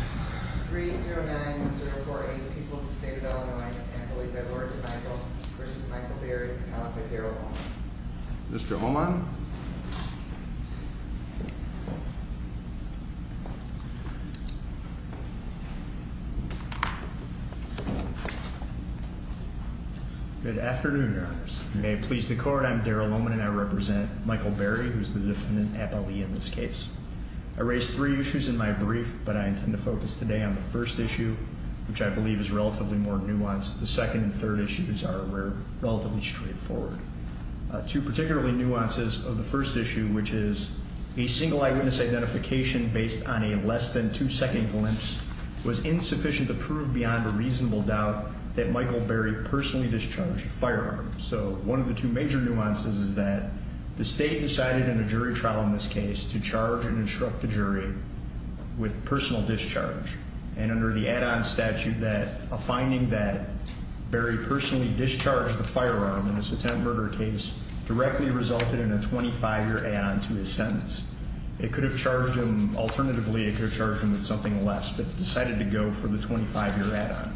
309-1048, the people of the state of Illinois, and I believe by the words of Michael v. Michael Berry, appellant by Daryl Oman. Mr. Oman? Good afternoon, Your Honors. May it please the Court, I'm Daryl Oman, and I represent Michael Berry, who is the defendant appellee in this case. I raised three issues in my brief, but I intend to focus today on the first issue, which I believe is relatively more nuanced. The second and third issues are relatively straightforward. Two particularly nuances of the first issue, which is a single eyewitness identification based on a less than two-second glimpse was insufficient to prove beyond a reasonable doubt that Michael Berry personally discharged a firearm. So, one of the two major nuances is that the state decided in a jury trial in this case to charge and instruct the jury with personal discharge. And under the add-on statute that a finding that Berry personally discharged the firearm in his attempted murder case directly resulted in a 25-year add-on to his sentence. It could have charged him, alternatively, it could have charged him with something less, but decided to go for the 25-year add-on.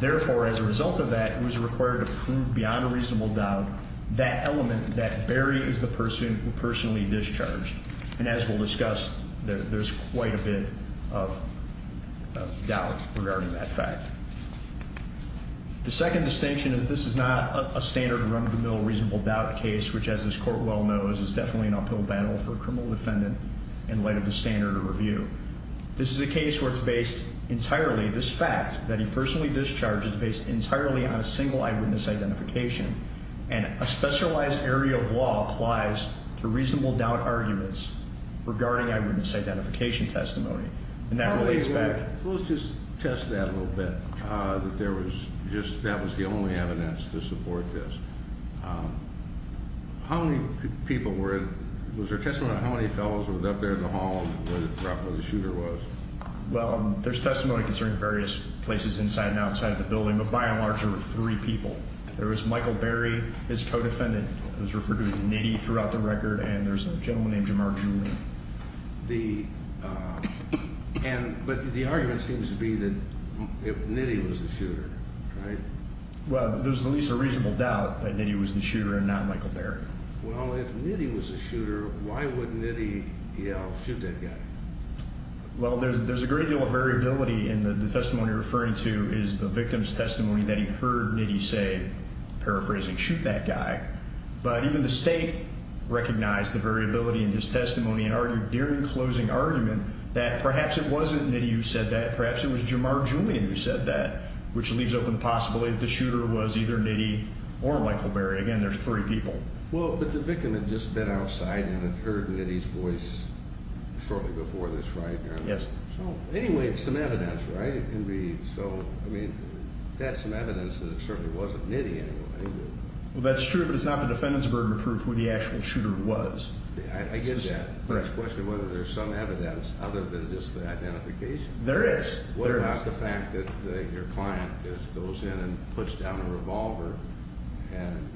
Therefore, as a result of that, it was required to prove beyond a reasonable doubt that element that Berry is the person who personally discharged. And as we'll discuss, there's quite a bit of doubt regarding that fact. The second distinction is this is not a standard run-of-the-mill reasonable doubt case, which, as this Court well knows, is definitely an uphill battle for a criminal defendant in light of the standard of review. This is a case where it's based entirely, this fact that he personally discharged is based entirely on a single eyewitness identification. And a specialized area of law applies to reasonable doubt arguments regarding eyewitness identification testimony. And that relates back... Let's just test that a little bit, that there was just, that was the only evidence to support this. How many people were, was there testimony on how many fellows were up there in the hall where the shooter was? Well, there's testimony concerning various places inside and outside the building, but by and large, there were three people. There was Michael Berry, his co-defendant, who was referred to as Nitty throughout the record, and there's a gentleman named Jamar Jr. The, and, but the argument seems to be that Nitty was the shooter, right? Well, there's at least a reasonable doubt that Nitty was the shooter and not Michael Berry. Well, if Nitty was the shooter, why would Nitty yell, shoot that guy? Well, there's a great deal of variability in the testimony you're referring to is the victim's testimony that he heard Nitty say, paraphrasing, shoot that guy. But even the State recognized the variability in his testimony and argued during the closing argument that perhaps it wasn't Nitty who said that, perhaps it was Jamar Jr. who said that, which leaves open possibility that the shooter was either Nitty or Michael Berry. Again, there's three people. Well, but the victim had just been outside and had heard Nitty's voice shortly before this, right? Yes. So, anyway, some evidence, right? It can be, so, I mean, that's some evidence that it certainly wasn't Nitty anyway. Well, that's true, but it's not the defendant's burden to prove who the actual shooter was. I get that, but it's a question of whether there's some evidence other than just the identification. There is. What about the fact that your client goes in and puts down a revolver and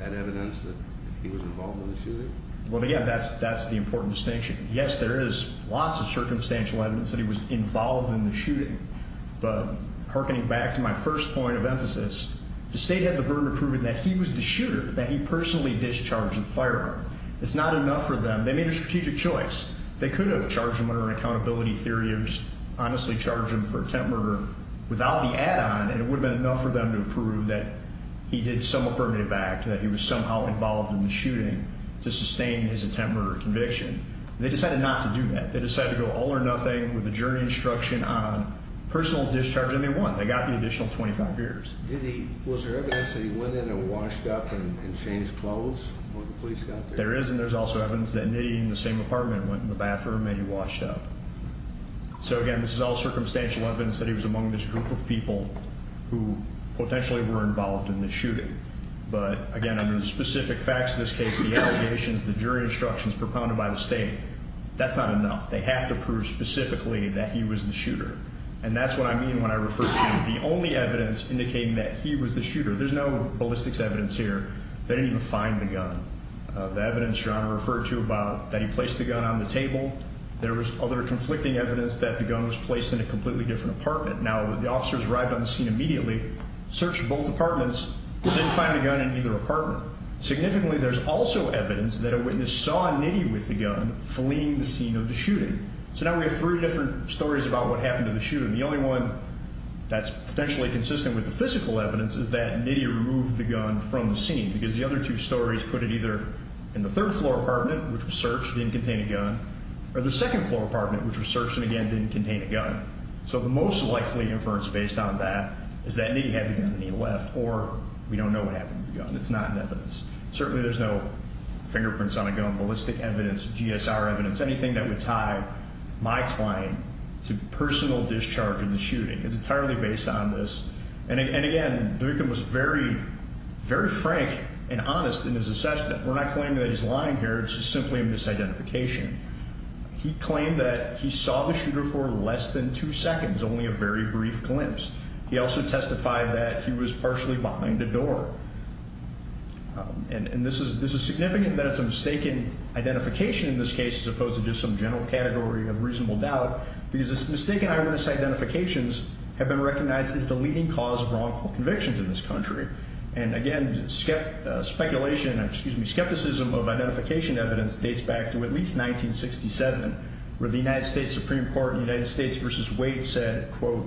had evidence that he was involved in the shooting? Well, again, that's the important distinction. Yes, there is lots of circumstantial evidence that he was involved in the shooting, but hearkening back to my first point of emphasis, the State had the burden of proving that he was the shooter, that he personally discharged the firearm. It's not enough for them. They made a strategic choice. They could have charged him under an accountability theory or just honestly charged him for attempt murder without the add-on, and it would have been enough for them to prove that he did some affirmative act, that he was somehow involved in the shooting to sustain his attempt murder conviction. They decided not to do that. They decided to go all or nothing with a jury instruction on personal discharge, and they won. They got the additional 25 years. Did he, was there evidence that he went in and washed up and changed clothes when the police got there? There is, and there's also evidence that he and the same apartment went in the bathroom and he washed up. So, again, this is all circumstantial evidence that he was among this group of people who potentially were involved in the shooting. But, again, under the specific facts of this case, the allegations, the jury instructions propounded by the State, that's not enough. They have to prove specifically that he was the shooter, and that's what I mean when I refer to the only evidence indicating that he was the shooter. There's no ballistics evidence here. They didn't even find the gun. The evidence your Honor referred to about that he placed the gun on the table, there was other conflicting evidence that the gun was placed in a completely different apartment. Now, the officers arrived on the scene immediately, searched both apartments, didn't find the gun in either apartment. Significantly, there's also evidence that a witness saw Nitti with the gun fleeing the scene of the shooting. So now we have three different stories about what happened to the shooter. The only one that's potentially consistent with the physical evidence is that Nitti removed the gun from the scene, because the other two stories put it either in the third-floor apartment, which was searched, didn't contain a gun, or the second-floor apartment, which was searched and, again, didn't contain a gun. So the most likely inference based on that is that Nitti had the gun and he left, or we don't know what happened to the gun. It's not in evidence. Certainly there's no fingerprints on a gun, ballistics evidence, GSR evidence, anything that would tie my claim to personal discharge in the shooting. It's entirely based on this. And, again, the victim was very, very frank and honest in his assessment. We're not claiming that he's lying here. It's just simply a misidentification. He claimed that he saw the shooter for less than two seconds, only a very brief glimpse. He also testified that he was partially behind a door. And this is significant that it's a mistaken identification in this case, as opposed to just some general category of reasonable doubt, because mistaken eyewitness identifications have been recognized as the leading cause of wrongful convictions in this country. And, again, speculation, excuse me, skepticism of identification evidence dates back to at least 1967, where the United States Supreme Court in United States v. Wade said, quote,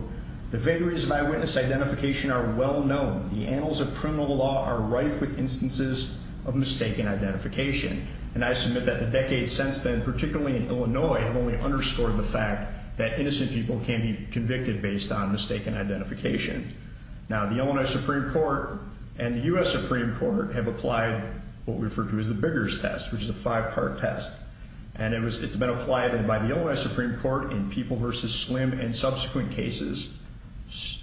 The vagaries of eyewitness identification are well known. The annals of criminal law are rife with instances of mistaken identification. And I submit that the decades since then, particularly in Illinois, have only underscored the fact that innocent people can be convicted based on mistaken identification. Now, the Illinois Supreme Court and the U.S. Supreme Court have applied what we refer to as the Biggers test, which is a five-part test. And it's been applied by the Illinois Supreme Court in people v. Slim and subsequent cases,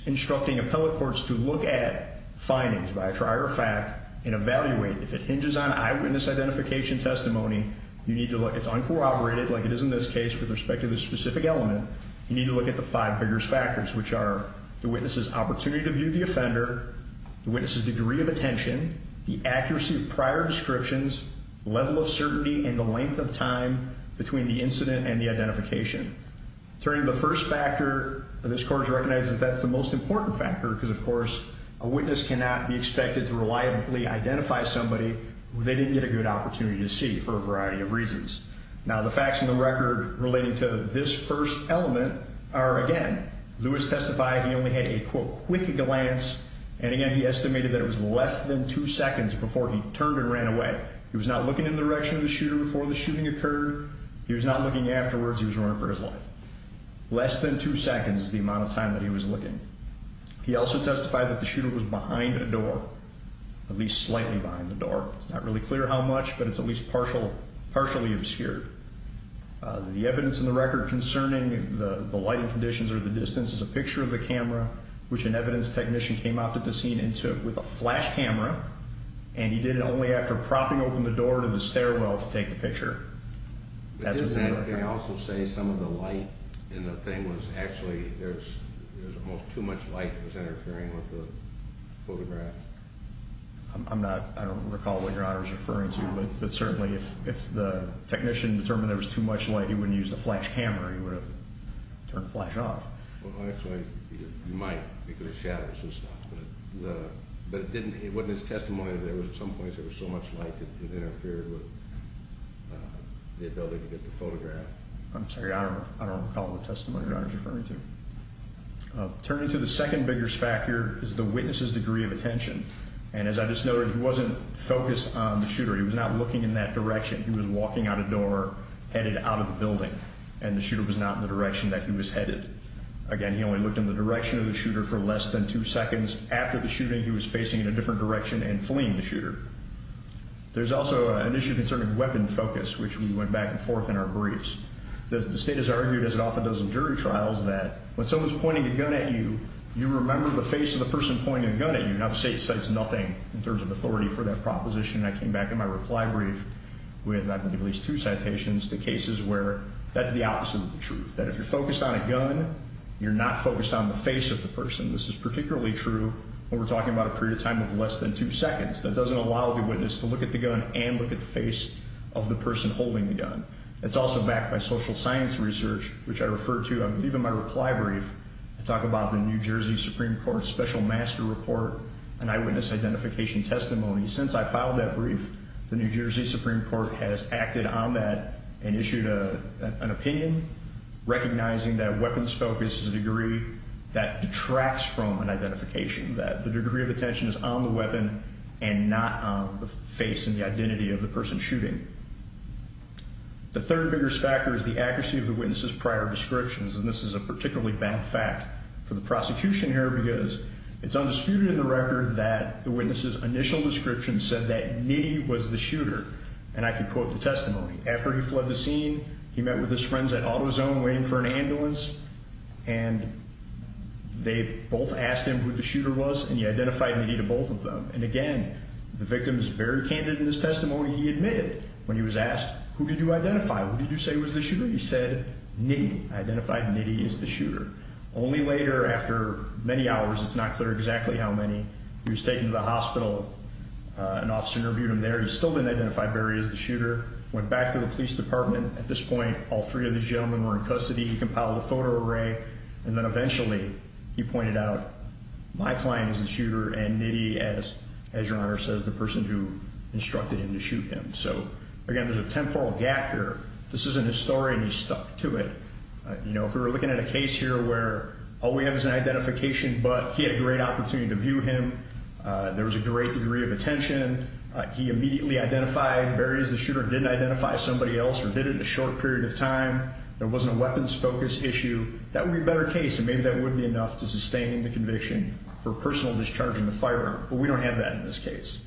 instructing appellate courts to look at findings, by a trier fact, and evaluate. If it hinges on eyewitness identification testimony, you need to look. It's uncorroborated, like it is in this case, with respect to the specific element. You need to look at the five Biggers factors, which are the witness's opportunity to view the offender, the witness's degree of attention, the accuracy of prior descriptions, level of certainty, and the length of time between the incident and the identification. Turning to the first factor, this Court has recognized that that's the most important factor because, of course, a witness cannot be expected to reliably identify somebody who they didn't get a good opportunity to see for a variety of reasons. Now, the facts in the record relating to this first element are, again, Lewis testified he only had a, quote, quick glance, and, again, he estimated that it was less than two seconds before he turned and ran away. He was not looking in the direction of the shooter before the shooting occurred. He was not looking afterwards. He was running for his life. Less than two seconds is the amount of time that he was looking. He also testified that the shooter was behind a door, at least slightly behind the door. It's not really clear how much, but it's at least partially obscured. The evidence in the record concerning the lighting conditions or the distance is a picture of the camera, which an evidence technician came out to the scene and took with a flash camera, and he did it only after propping open the door to the stairwell to take the picture. That's what's in the record. Didn't they also say some of the light in the thing was actually, there was almost too much light that was interfering with the photograph? I'm not, I don't recall what Your Honor is referring to, but certainly if the technician determined there was too much light, he wouldn't use the flash camera. He would have turned the flash off. Well, actually, he might because it shatters and stuff, but it wasn't his testimony that there was at some points there was so much light that it interfered with the ability to get the photograph. I'm sorry, I don't recall what testimony Your Honor is referring to. Turning to the second biggest factor is the witness's degree of attention, and as I just noted, he wasn't focused on the shooter. He was not looking in that direction. He was walking out a door headed out of the building, and the shooter was not in the direction that he was headed. Again, he only looked in the direction of the shooter for less than two seconds. After the shooting, he was facing in a different direction and fleeing the shooter. There's also an issue concerning weapon focus, which we went back and forth in our briefs. The state has argued, as it often does in jury trials, that when someone's pointing a gun at you, you remember the face of the person pointing the gun at you. Now, the state cites nothing in terms of authority for that proposition, and I came back in my reply brief with at least two citations to cases where that's the opposite of the truth, that if you're focused on a gun, you're not focused on the face of the person. This is particularly true when we're talking about a period of time of less than two seconds. That doesn't allow the witness to look at the gun and look at the face of the person holding the gun. It's also backed by social science research, which I refer to, I believe, in my reply brief. I talk about the New Jersey Supreme Court Special Master Report and eyewitness identification testimony. Since I filed that brief, the New Jersey Supreme Court has acted on that and issued an opinion recognizing that weapons focus is a degree that detracts from an identification, that the degree of attention is on the weapon and not on the face and the identity of the person shooting. The third biggest factor is the accuracy of the witness's prior descriptions, and this is a particularly bad fact for the prosecution here because it's undisputed in the record that the witness's initial description said that After he fled the scene, he met with his friends at AutoZone waiting for an ambulance, and they both asked him who the shooter was, and he identified Nitti to both of them. And again, the victim is very candid in his testimony. He admitted when he was asked, Who did you identify? Who did you say was the shooter? He said, Nitti. I identified Nitti as the shooter. Only later, after many hours, it's not clear exactly how many, he was taken to the hospital. An officer interviewed him there. He still didn't identify Barry as the shooter. Went back to the police department. At this point, all three of these gentlemen were in custody. He compiled a photo array, and then eventually he pointed out, My client is the shooter, and Nitti, as Your Honor says, the person who instructed him to shoot him. So again, there's a temporal gap here. This isn't his story, and he stuck to it. If we were looking at a case here where all we have is an identification, but he had a great opportunity to view him. There was a great degree of attention. He immediately identified Barry as the shooter. Didn't identify somebody else or did it in a short period of time. There wasn't a weapons focus issue. That would be a better case, and maybe that would be enough to sustain the conviction for personal discharge in the firearm. But we don't have that in this case.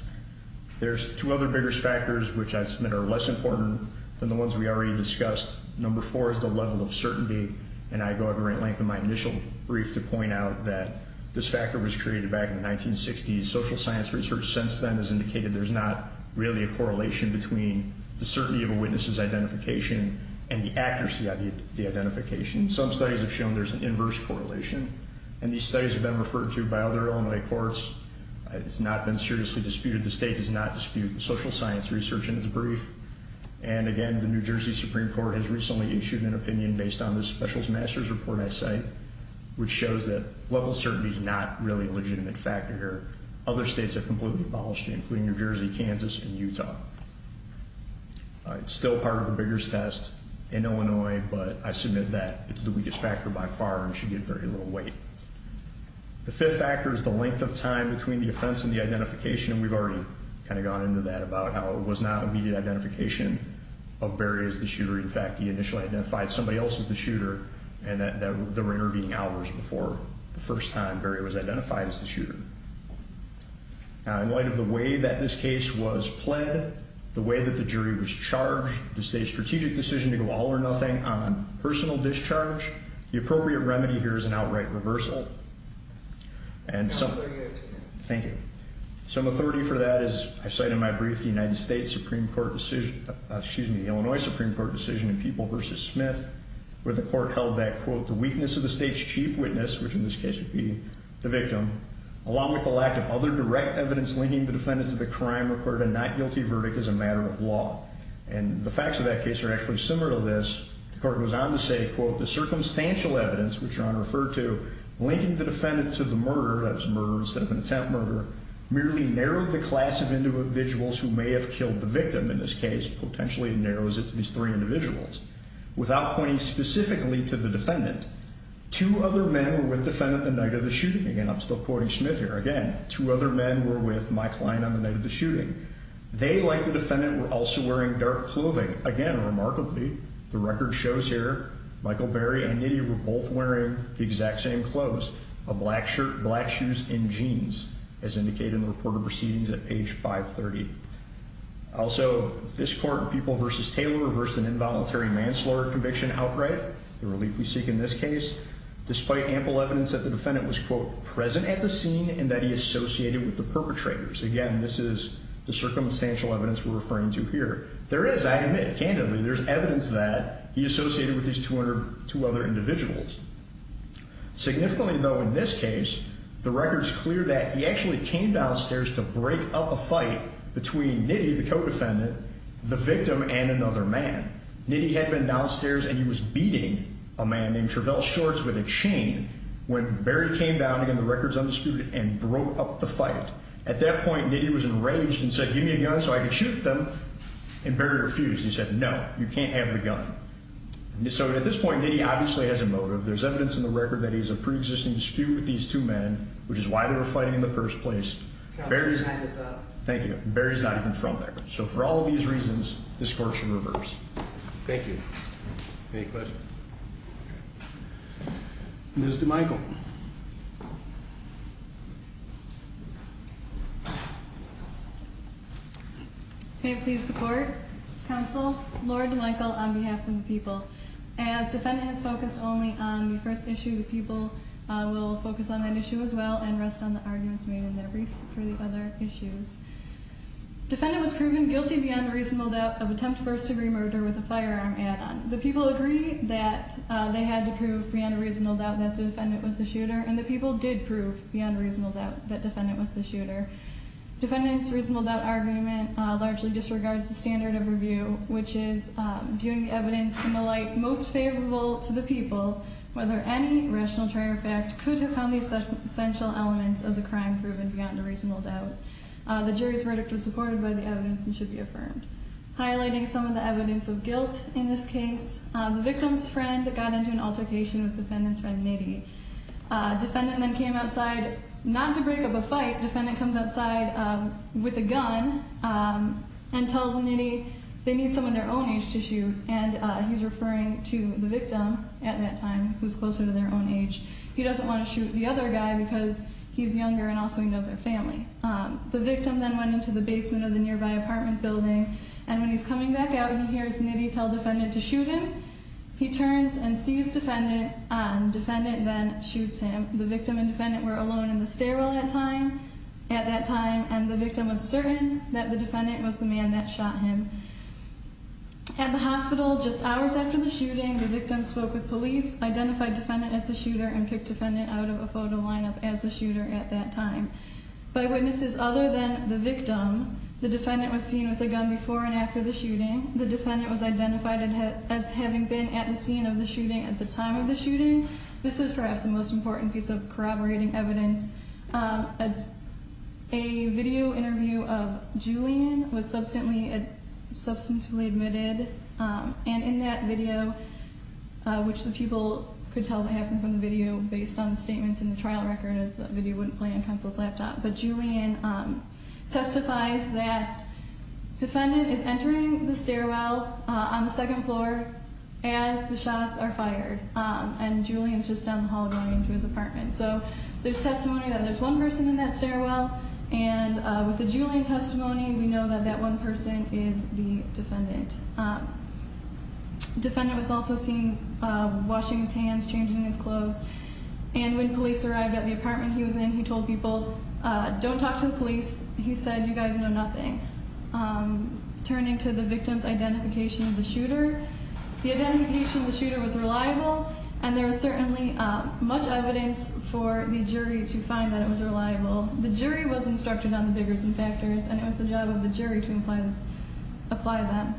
There's two other bigger factors, which I submit are less important than the ones we already discussed. Number four is the level of certainty, and I go at great length in my initial brief to point out that this factor was created back in the 1960s. Social science research since then has indicated there's not really a correlation between the certainty of a witness's identification and the accuracy of the identification. Some studies have shown there's an inverse correlation, and these studies have been referred to by other Illinois courts. It's not been seriously disputed. The state does not dispute social science research in its brief. And again, the New Jersey Supreme Court has recently issued an opinion based on the Specialist Master's report I cite, which shows that level of certainty is not really a legitimate factor here. Other states have completely abolished it, including New Jersey, Kansas, and Utah. It's still part of the Biggers test in Illinois, but I submit that it's the weakest factor by far and should get very little weight. The fifth factor is the length of time between the offense and the identification, and we've already kind of gone into that about how it was not immediate identification of Barry as the shooter. In fact, he initially identified somebody else as the shooter and that there were intervening hours before the first time Barry was identified as the shooter. Now, in light of the way that this case was pled, the way that the jury was charged to say a strategic decision to go all or nothing on personal discharge, the appropriate remedy here is an outright reversal. And some... Thank you. Some authority for that is, I cite in my brief, the United States Supreme Court decision... excuse me, the Illinois Supreme Court decision in People v. Smith where the court held that, quote, the weakness of the state's chief witness, which in this case would be the victim, along with the lack of other direct evidence linking the defendants to the crime required a not-guilty verdict as a matter of law. And the facts of that case are actually similar to this. The court goes on to say, quote, the circumstantial evidence, which Your Honor referred to, linking the defendant to the murder, that was a murder instead of an attempt murder, merely narrowed the class of individuals who may have killed the victim in this case. In this case, potentially it narrows it to these three individuals. Without pointing specifically to the defendant, two other men were with the defendant the night of the shooting. Again, I'm still quoting Smith here. Again, two other men were with Mike Klein on the night of the shooting. They, like the defendant, were also wearing dark clothing. Again, remarkably, the record shows here, Michael Berry and Nitti were both wearing the exact same clothes, a black shirt, black shoes, and jeans, as indicated in the reported proceedings at page 530. Also, this court in Pupil v. Taylor reversed an involuntary manslaughter conviction outright, the relief we seek in this case, despite ample evidence that the defendant was, quote, present at the scene and that he associated with the perpetrators. Again, this is the circumstantial evidence we're referring to here. There is, I admit, candidly, there's evidence that he associated with these two other individuals. Significantly, though, in this case, the record's clear that he actually came downstairs to break up a fight between Nitti, the co-defendant, the victim, and another man. Nitti had been downstairs, and he was beating a man named Travell Shorts with a chain when Berry came down, again, the record's undisputed, and broke up the fight. At that point, Nitti was enraged and said, give me a gun so I can shoot them, and Berry refused. He said, no, you can't have the gun. So at this point, Nitti obviously has a motive. There's evidence in the record that he has a preexisting dispute with these two men, which is why they were fighting in the first place. Thank you. Berry's not even from there. So for all of these reasons, this court should reverse. Thank you. Any questions? Ms. DeMichael. May it please the Court, Mr. Counsel, Laura DeMichael on behalf of the people. As defendant has focused only on the first issue, the people will focus on that issue as well and rest on the arguments made in their brief for the other issues. Defendant was proven guilty beyond a reasonable doubt of attempt first-degree murder with a firearm add-on. The people agree that they had to prove beyond a reasonable doubt that the defendant was the shooter, and the people did prove beyond a reasonable doubt that the defendant was the shooter. Defendant's reasonable doubt argument largely disregards the standard of review, which is viewing evidence in the light most favorable to the people, whether any rational trait or fact could have found the essential elements of the crime proven beyond a reasonable doubt. The jury's verdict was supported by the evidence and should be affirmed. Highlighting some of the evidence of guilt in this case, the victim's friend got into an altercation with defendant's friend, Nitty. Defendant then came outside not to break up a fight. Defendant comes outside with a gun and tells Nitty they need someone their own age to shoot, and he's referring to the victim at that time, who's closer to their own age. He doesn't want to shoot the other guy because he's younger and also he knows their family. The victim then went into the basement of the nearby apartment building, and when he's coming back out, he hears Nitty tell defendant to shoot him. He turns and sees defendant. Defendant then shoots him. The victim and defendant were alone in the stairwell at that time, and the victim was certain that the defendant was the man that shot him. At the hospital, just hours after the shooting, the victim spoke with police, identified defendant as the shooter, and picked defendant out of a photo lineup as the shooter at that time. By witnesses other than the victim, the defendant was seen with a gun before and after the shooting. The defendant was identified as having been at the scene of the shooting at the time of the shooting. This is perhaps the most important piece of corroborating evidence. A video interview of Julian was substantively admitted, and in that video, which the people could tell that happened from the video based on the statements in the trial record as the video wouldn't play on counsel's laptop, but Julian testifies that defendant is entering the stairwell on the second floor as the shots are fired, and Julian's just down the hall going into his apartment. So there's testimony that there's one person in that stairwell, and with the Julian testimony, we know that that one person is the defendant. Defendant was also seen washing his hands, changing his clothes, and when police arrived at the apartment he was in, he told people, don't talk to the police. He said, you guys know nothing. Turning to the victim's identification of the shooter, the identification of the shooter was reliable, and there was certainly much evidence for the jury to find that it was reliable. The jury was instructed on the biggers and factors, and it was the job of the jury to apply them.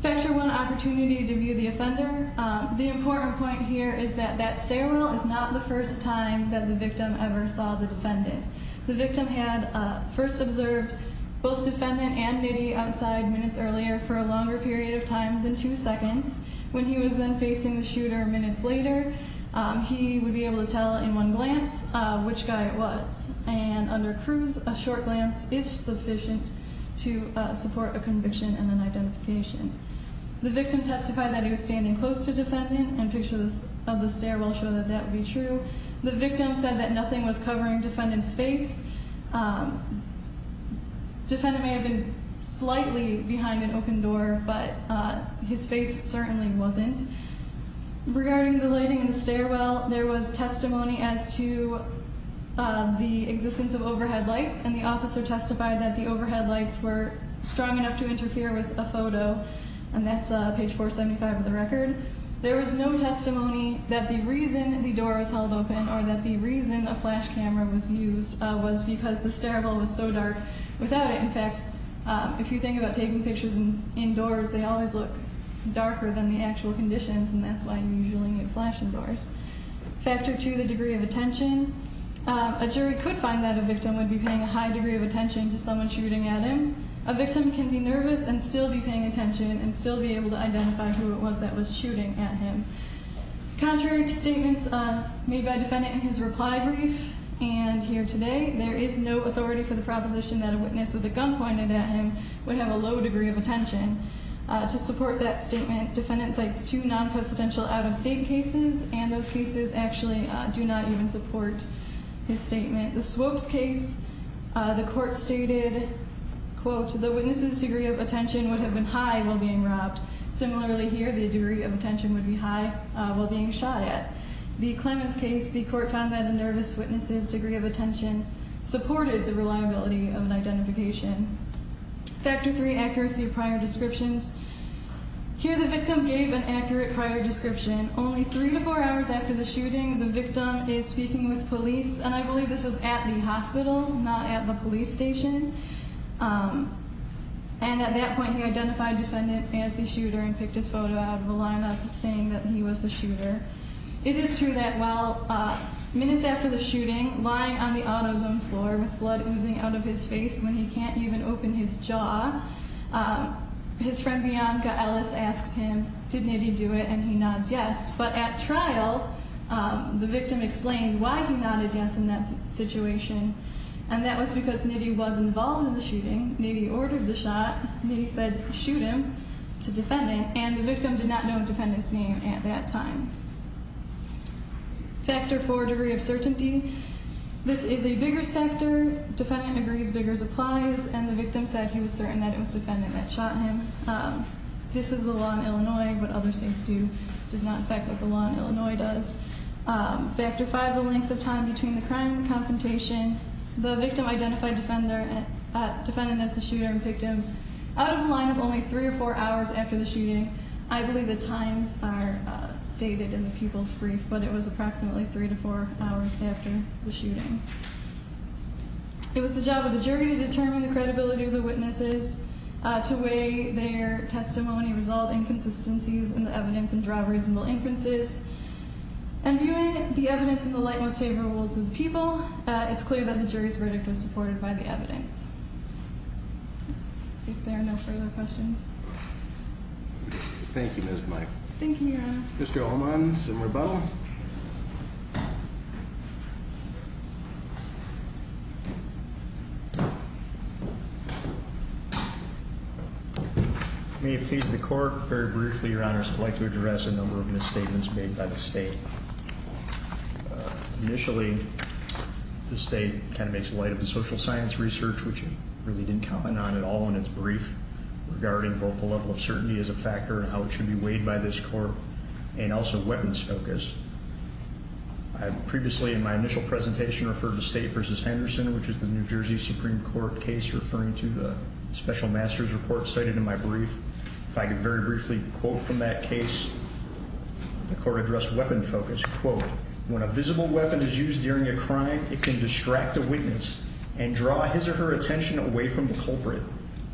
Factor one, opportunity to view the offender. The important point here is that that stairwell is not the first time that the victim ever saw the defendant. The victim had first observed both defendant and Middy outside minutes earlier for a longer period of time than two seconds when he was then facing the shooter minutes later. He would be able to tell in one glance which guy it was, and under Cruz, a short glance is sufficient to support a conviction and an identification. The victim testified that he was standing close to defendant, and pictures of the stairwell show that that would be true. The victim said that nothing was covering defendant's face. Defendant may have been slightly behind an open door, but his face certainly wasn't. Regarding the lighting in the stairwell, there was testimony as to the existence of overhead lights, and the officer testified that the overhead lights were strong enough to interfere with a photo, and that's page 475 of the record. There was no testimony that the reason the door was held open or that the reason a flash camera was used was because the stairwell was so dark. Without it, in fact, if you think about taking pictures indoors, they always look darker than the actual conditions, and that's why you usually need flash indoors. Factor two, the degree of attention. A jury could find that a victim would be paying a high degree of attention to someone shooting at him. A victim can be nervous and still be paying attention and still be able to identify who it was that was shooting at him. Contrary to statements made by defendant in his reply brief and here today, there is no authority for the proposition that a witness with a gun pointed at him would have a low degree of attention. To support that statement, defendant cites two non-presidential out-of-state cases, and those cases actually do not even support his statement. The Swopes case, the court stated, quote, the witness's degree of attention would have been high while being robbed. Similarly here, the degree of attention would be high while being shot at. The Clements case, the court found that a nervous witness's degree of attention supported the reliability of an identification. Factor three, accuracy of prior descriptions. Here the victim gave an accurate prior description. Only three to four hours after the shooting, the victim is speaking with police, and I believe this was at the hospital, not at the police station, and at that point he identified defendant as the shooter and picked his photo out of a line-up saying that he was the shooter. It is true that while minutes after the shooting, lying on the autosome floor with blood oozing out of his face when he can't even open his jaw, his friend Bianca Ellis asked him, did Nitti do it, and he nods yes. But at trial, the victim explained why he nodded yes in that situation, and that was because Nitti was involved in the shooting. Nitti ordered the shot. Nitti said, shoot him, to defendant, and the victim did not know defendant's name at that time. Factor four, degree of certainty. This is a vigorous factor. Defendant agrees, vigorous applies, and the victim said he was certain that it was defendant that shot him. This is the law in Illinois. What others seem to do does not affect what the law in Illinois does. Factor five, the length of time between the crime and the confrontation. The victim identified defendant as the shooter and picked him out of the line of only three or four hours after the shooting. I believe the times are stated in the people's brief, but it was approximately three to four hours after the shooting. It was the job of the jury to determine the credibility of the witnesses, to weigh their testimony, resolve inconsistencies in the evidence, and draw reasonable inferences. And viewing the evidence in the light most favorable worlds of the people, it's clear that the jury's verdict was supported by the evidence. If there are no further questions. Thank you, Ms. Mike. Thank you, Your Honor. Mr. Allman, some rebuttal? May it please the court. Very briefly, Your Honor, I'd like to address a number of misstatements made by the state. Initially, the state kind of makes light of the social science research, which it really didn't comment on at all in its brief, regarding both the level of certainty as a factor and how it should be weighed by this court, and also weapons focus. I previously, in my initial presentation, referred to State v. Henderson, which is the New Jersey Supreme Court case referring to the special master's report cited in my brief. If I could very briefly quote from that case, the court addressed weapon focus. Quote, when a visible weapon is used during a crime, it can distract a witness and draw his or her attention away from the culprit.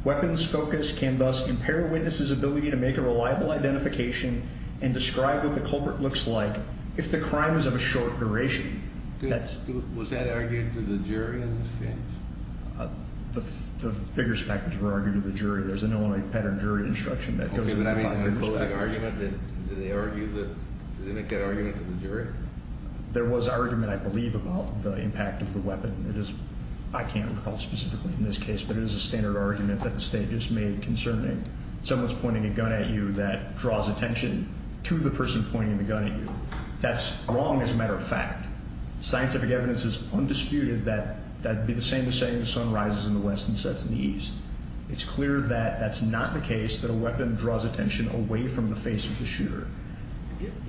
Weapons focus can thus impair a witness's ability to make a reliable identification and describe what the culprit looks like if the crime is of a short duration. Was that argued to the jury in this case? The biggest factors were argued to the jury. There's an Illinois pattern jury instruction that goes into the five biggest factors. Okay, but I mean, in a public argument, did they make that argument to the jury? There was argument, I believe, about the impact of the weapon. I can't recall specifically in this case, but it is a standard argument that the State just made concerning someone's pointing a gun at you that draws attention to the person pointing the gun at you. That's wrong as a matter of fact. Scientific evidence is undisputed that that would be the same as saying the sun rises in the west and sets in the east. It's clear that that's not the case, that a weapon draws attention away from the face of the shooter.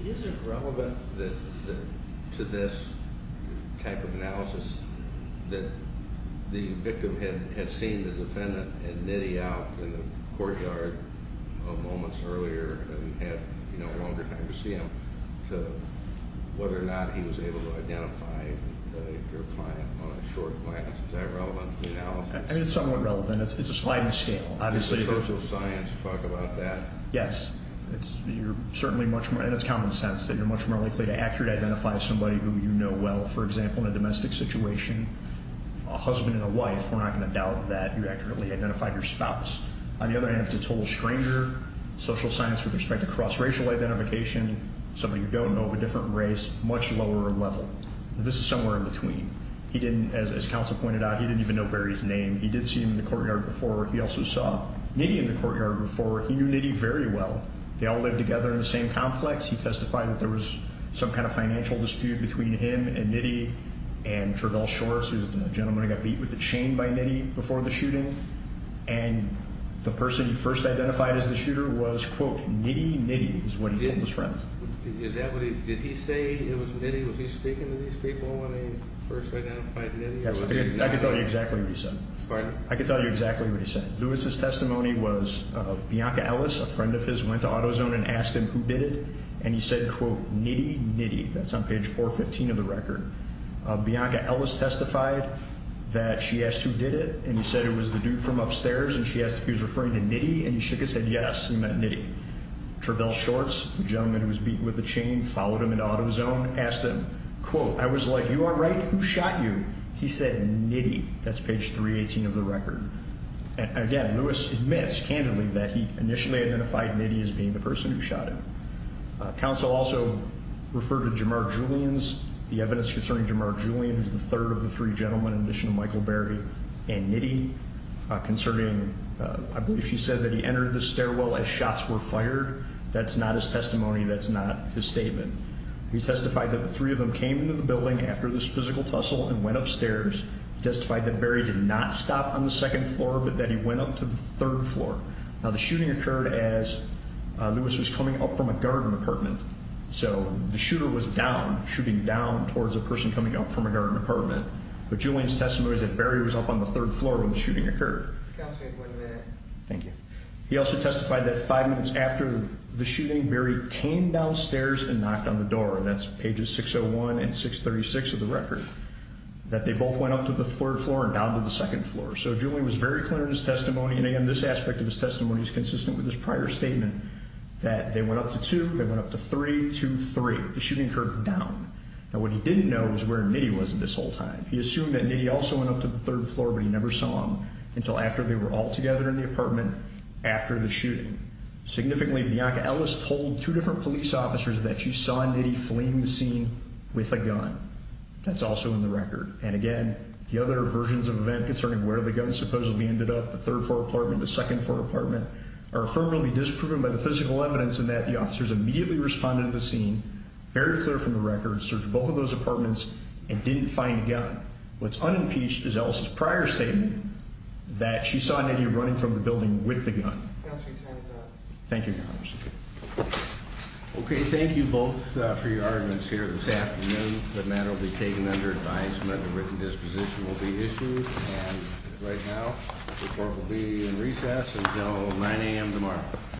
Is it relevant to this type of analysis that the victim had seen the defendant and nitty out in the courtyard moments earlier and had no longer time to see him to whether or not he was able to identify your client on a short glance? Is that relevant to the analysis? I mean, it's somewhat relevant. It's a sliding scale, obviously. Does the social science talk about that? Yes. And it's common sense that you're much more likely to accurately identify somebody who you know well. For example, in a domestic situation, a husband and a wife, we're not going to doubt that you accurately identified your spouse. On the other hand, if it's a total stranger, social science with respect to cross-racial identification, somebody you don't know of a different race, much lower level. This is somewhere in between. As counsel pointed out, he didn't even know Barry's name. He did see him in the courtyard before. He also saw nitty in the courtyard before. He knew nitty very well. They all lived together in the same complex. He testified that there was some kind of financial dispute between him and nitty and Trudell Shores, who was the gentleman who got beat with a chain by nitty before the shooting. And the person he first identified as the shooter was, quote, nitty, nitty, is what he told his friends. Did he say it was nitty? Was he speaking to these people when he first identified nitty? I can tell you exactly what he said. Pardon? I can tell you exactly what he said. Lewis's testimony was Bianca Ellis, a friend of his, went to AutoZone and asked him who did it, and he said, quote, nitty, nitty. That's on page 415 of the record. Bianca Ellis testified that she asked who did it, and he said it was the dude from upstairs, and she asked if he was referring to nitty, and he shook his head yes, he meant nitty. Trudell Shores, the gentleman who was beaten with a chain, followed him into AutoZone, asked him, quote, I was like, you are right, who shot you? He said nitty. That's page 318 of the record. Again, Lewis admits, candidly, that he initially identified nitty as being the person who shot him. Counsel also referred to Jamar Julians, the evidence concerning Jamar Julians, the third of the three gentlemen, in addition to Michael Berry and nitty, concerning, I believe she said that he entered the stairwell as shots were fired. That's not his testimony. That's not his statement. He testified that the three of them came into the building after this physical tussle and went upstairs. He testified that Berry did not stop on the second floor, but that he went up to the third floor. Now, the shooting occurred as Lewis was coming up from a garden apartment, so the shooter was down, shooting down towards a person coming up from a garden apartment. But Julians' testimony was that Berry was up on the third floor when the shooting occurred. Counsel, you have one minute. Thank you. He also testified that five minutes after the shooting, Berry came downstairs and knocked on the door. That's pages 601 and 636 of the record. That they both went up to the third floor and down to the second floor. So Julians was very clear in his testimony, and again, this aspect of his testimony is consistent with his prior statement, that they went up to two, they went up to three, two, three. The shooting occurred down. Now, what he didn't know was where nitty was this whole time. He assumed that nitty also went up to the third floor, but he never saw him until after they were all together in the apartment after the shooting. Significantly, Bianca Ellis told two different police officers that she saw nitty fleeing the scene with a gun. That's also in the record. And again, the other versions of events concerning where the gun supposedly ended up, the third floor apartment, the second floor apartment, are firmly disproven by the physical evidence in that the officers immediately responded to the scene, very clear from the record, searched both of those apartments, and didn't find the gun. What's unimpeached is Ellis' prior statement that she saw nitty running from the building with the gun. Counsel, your time is up. Thank you, Your Honor. Okay, thank you both for your arguments here this afternoon. The matter will be taken under advisement. A written disposition will be issued. And right now, the court will be in recess until 9 a.m. tomorrow.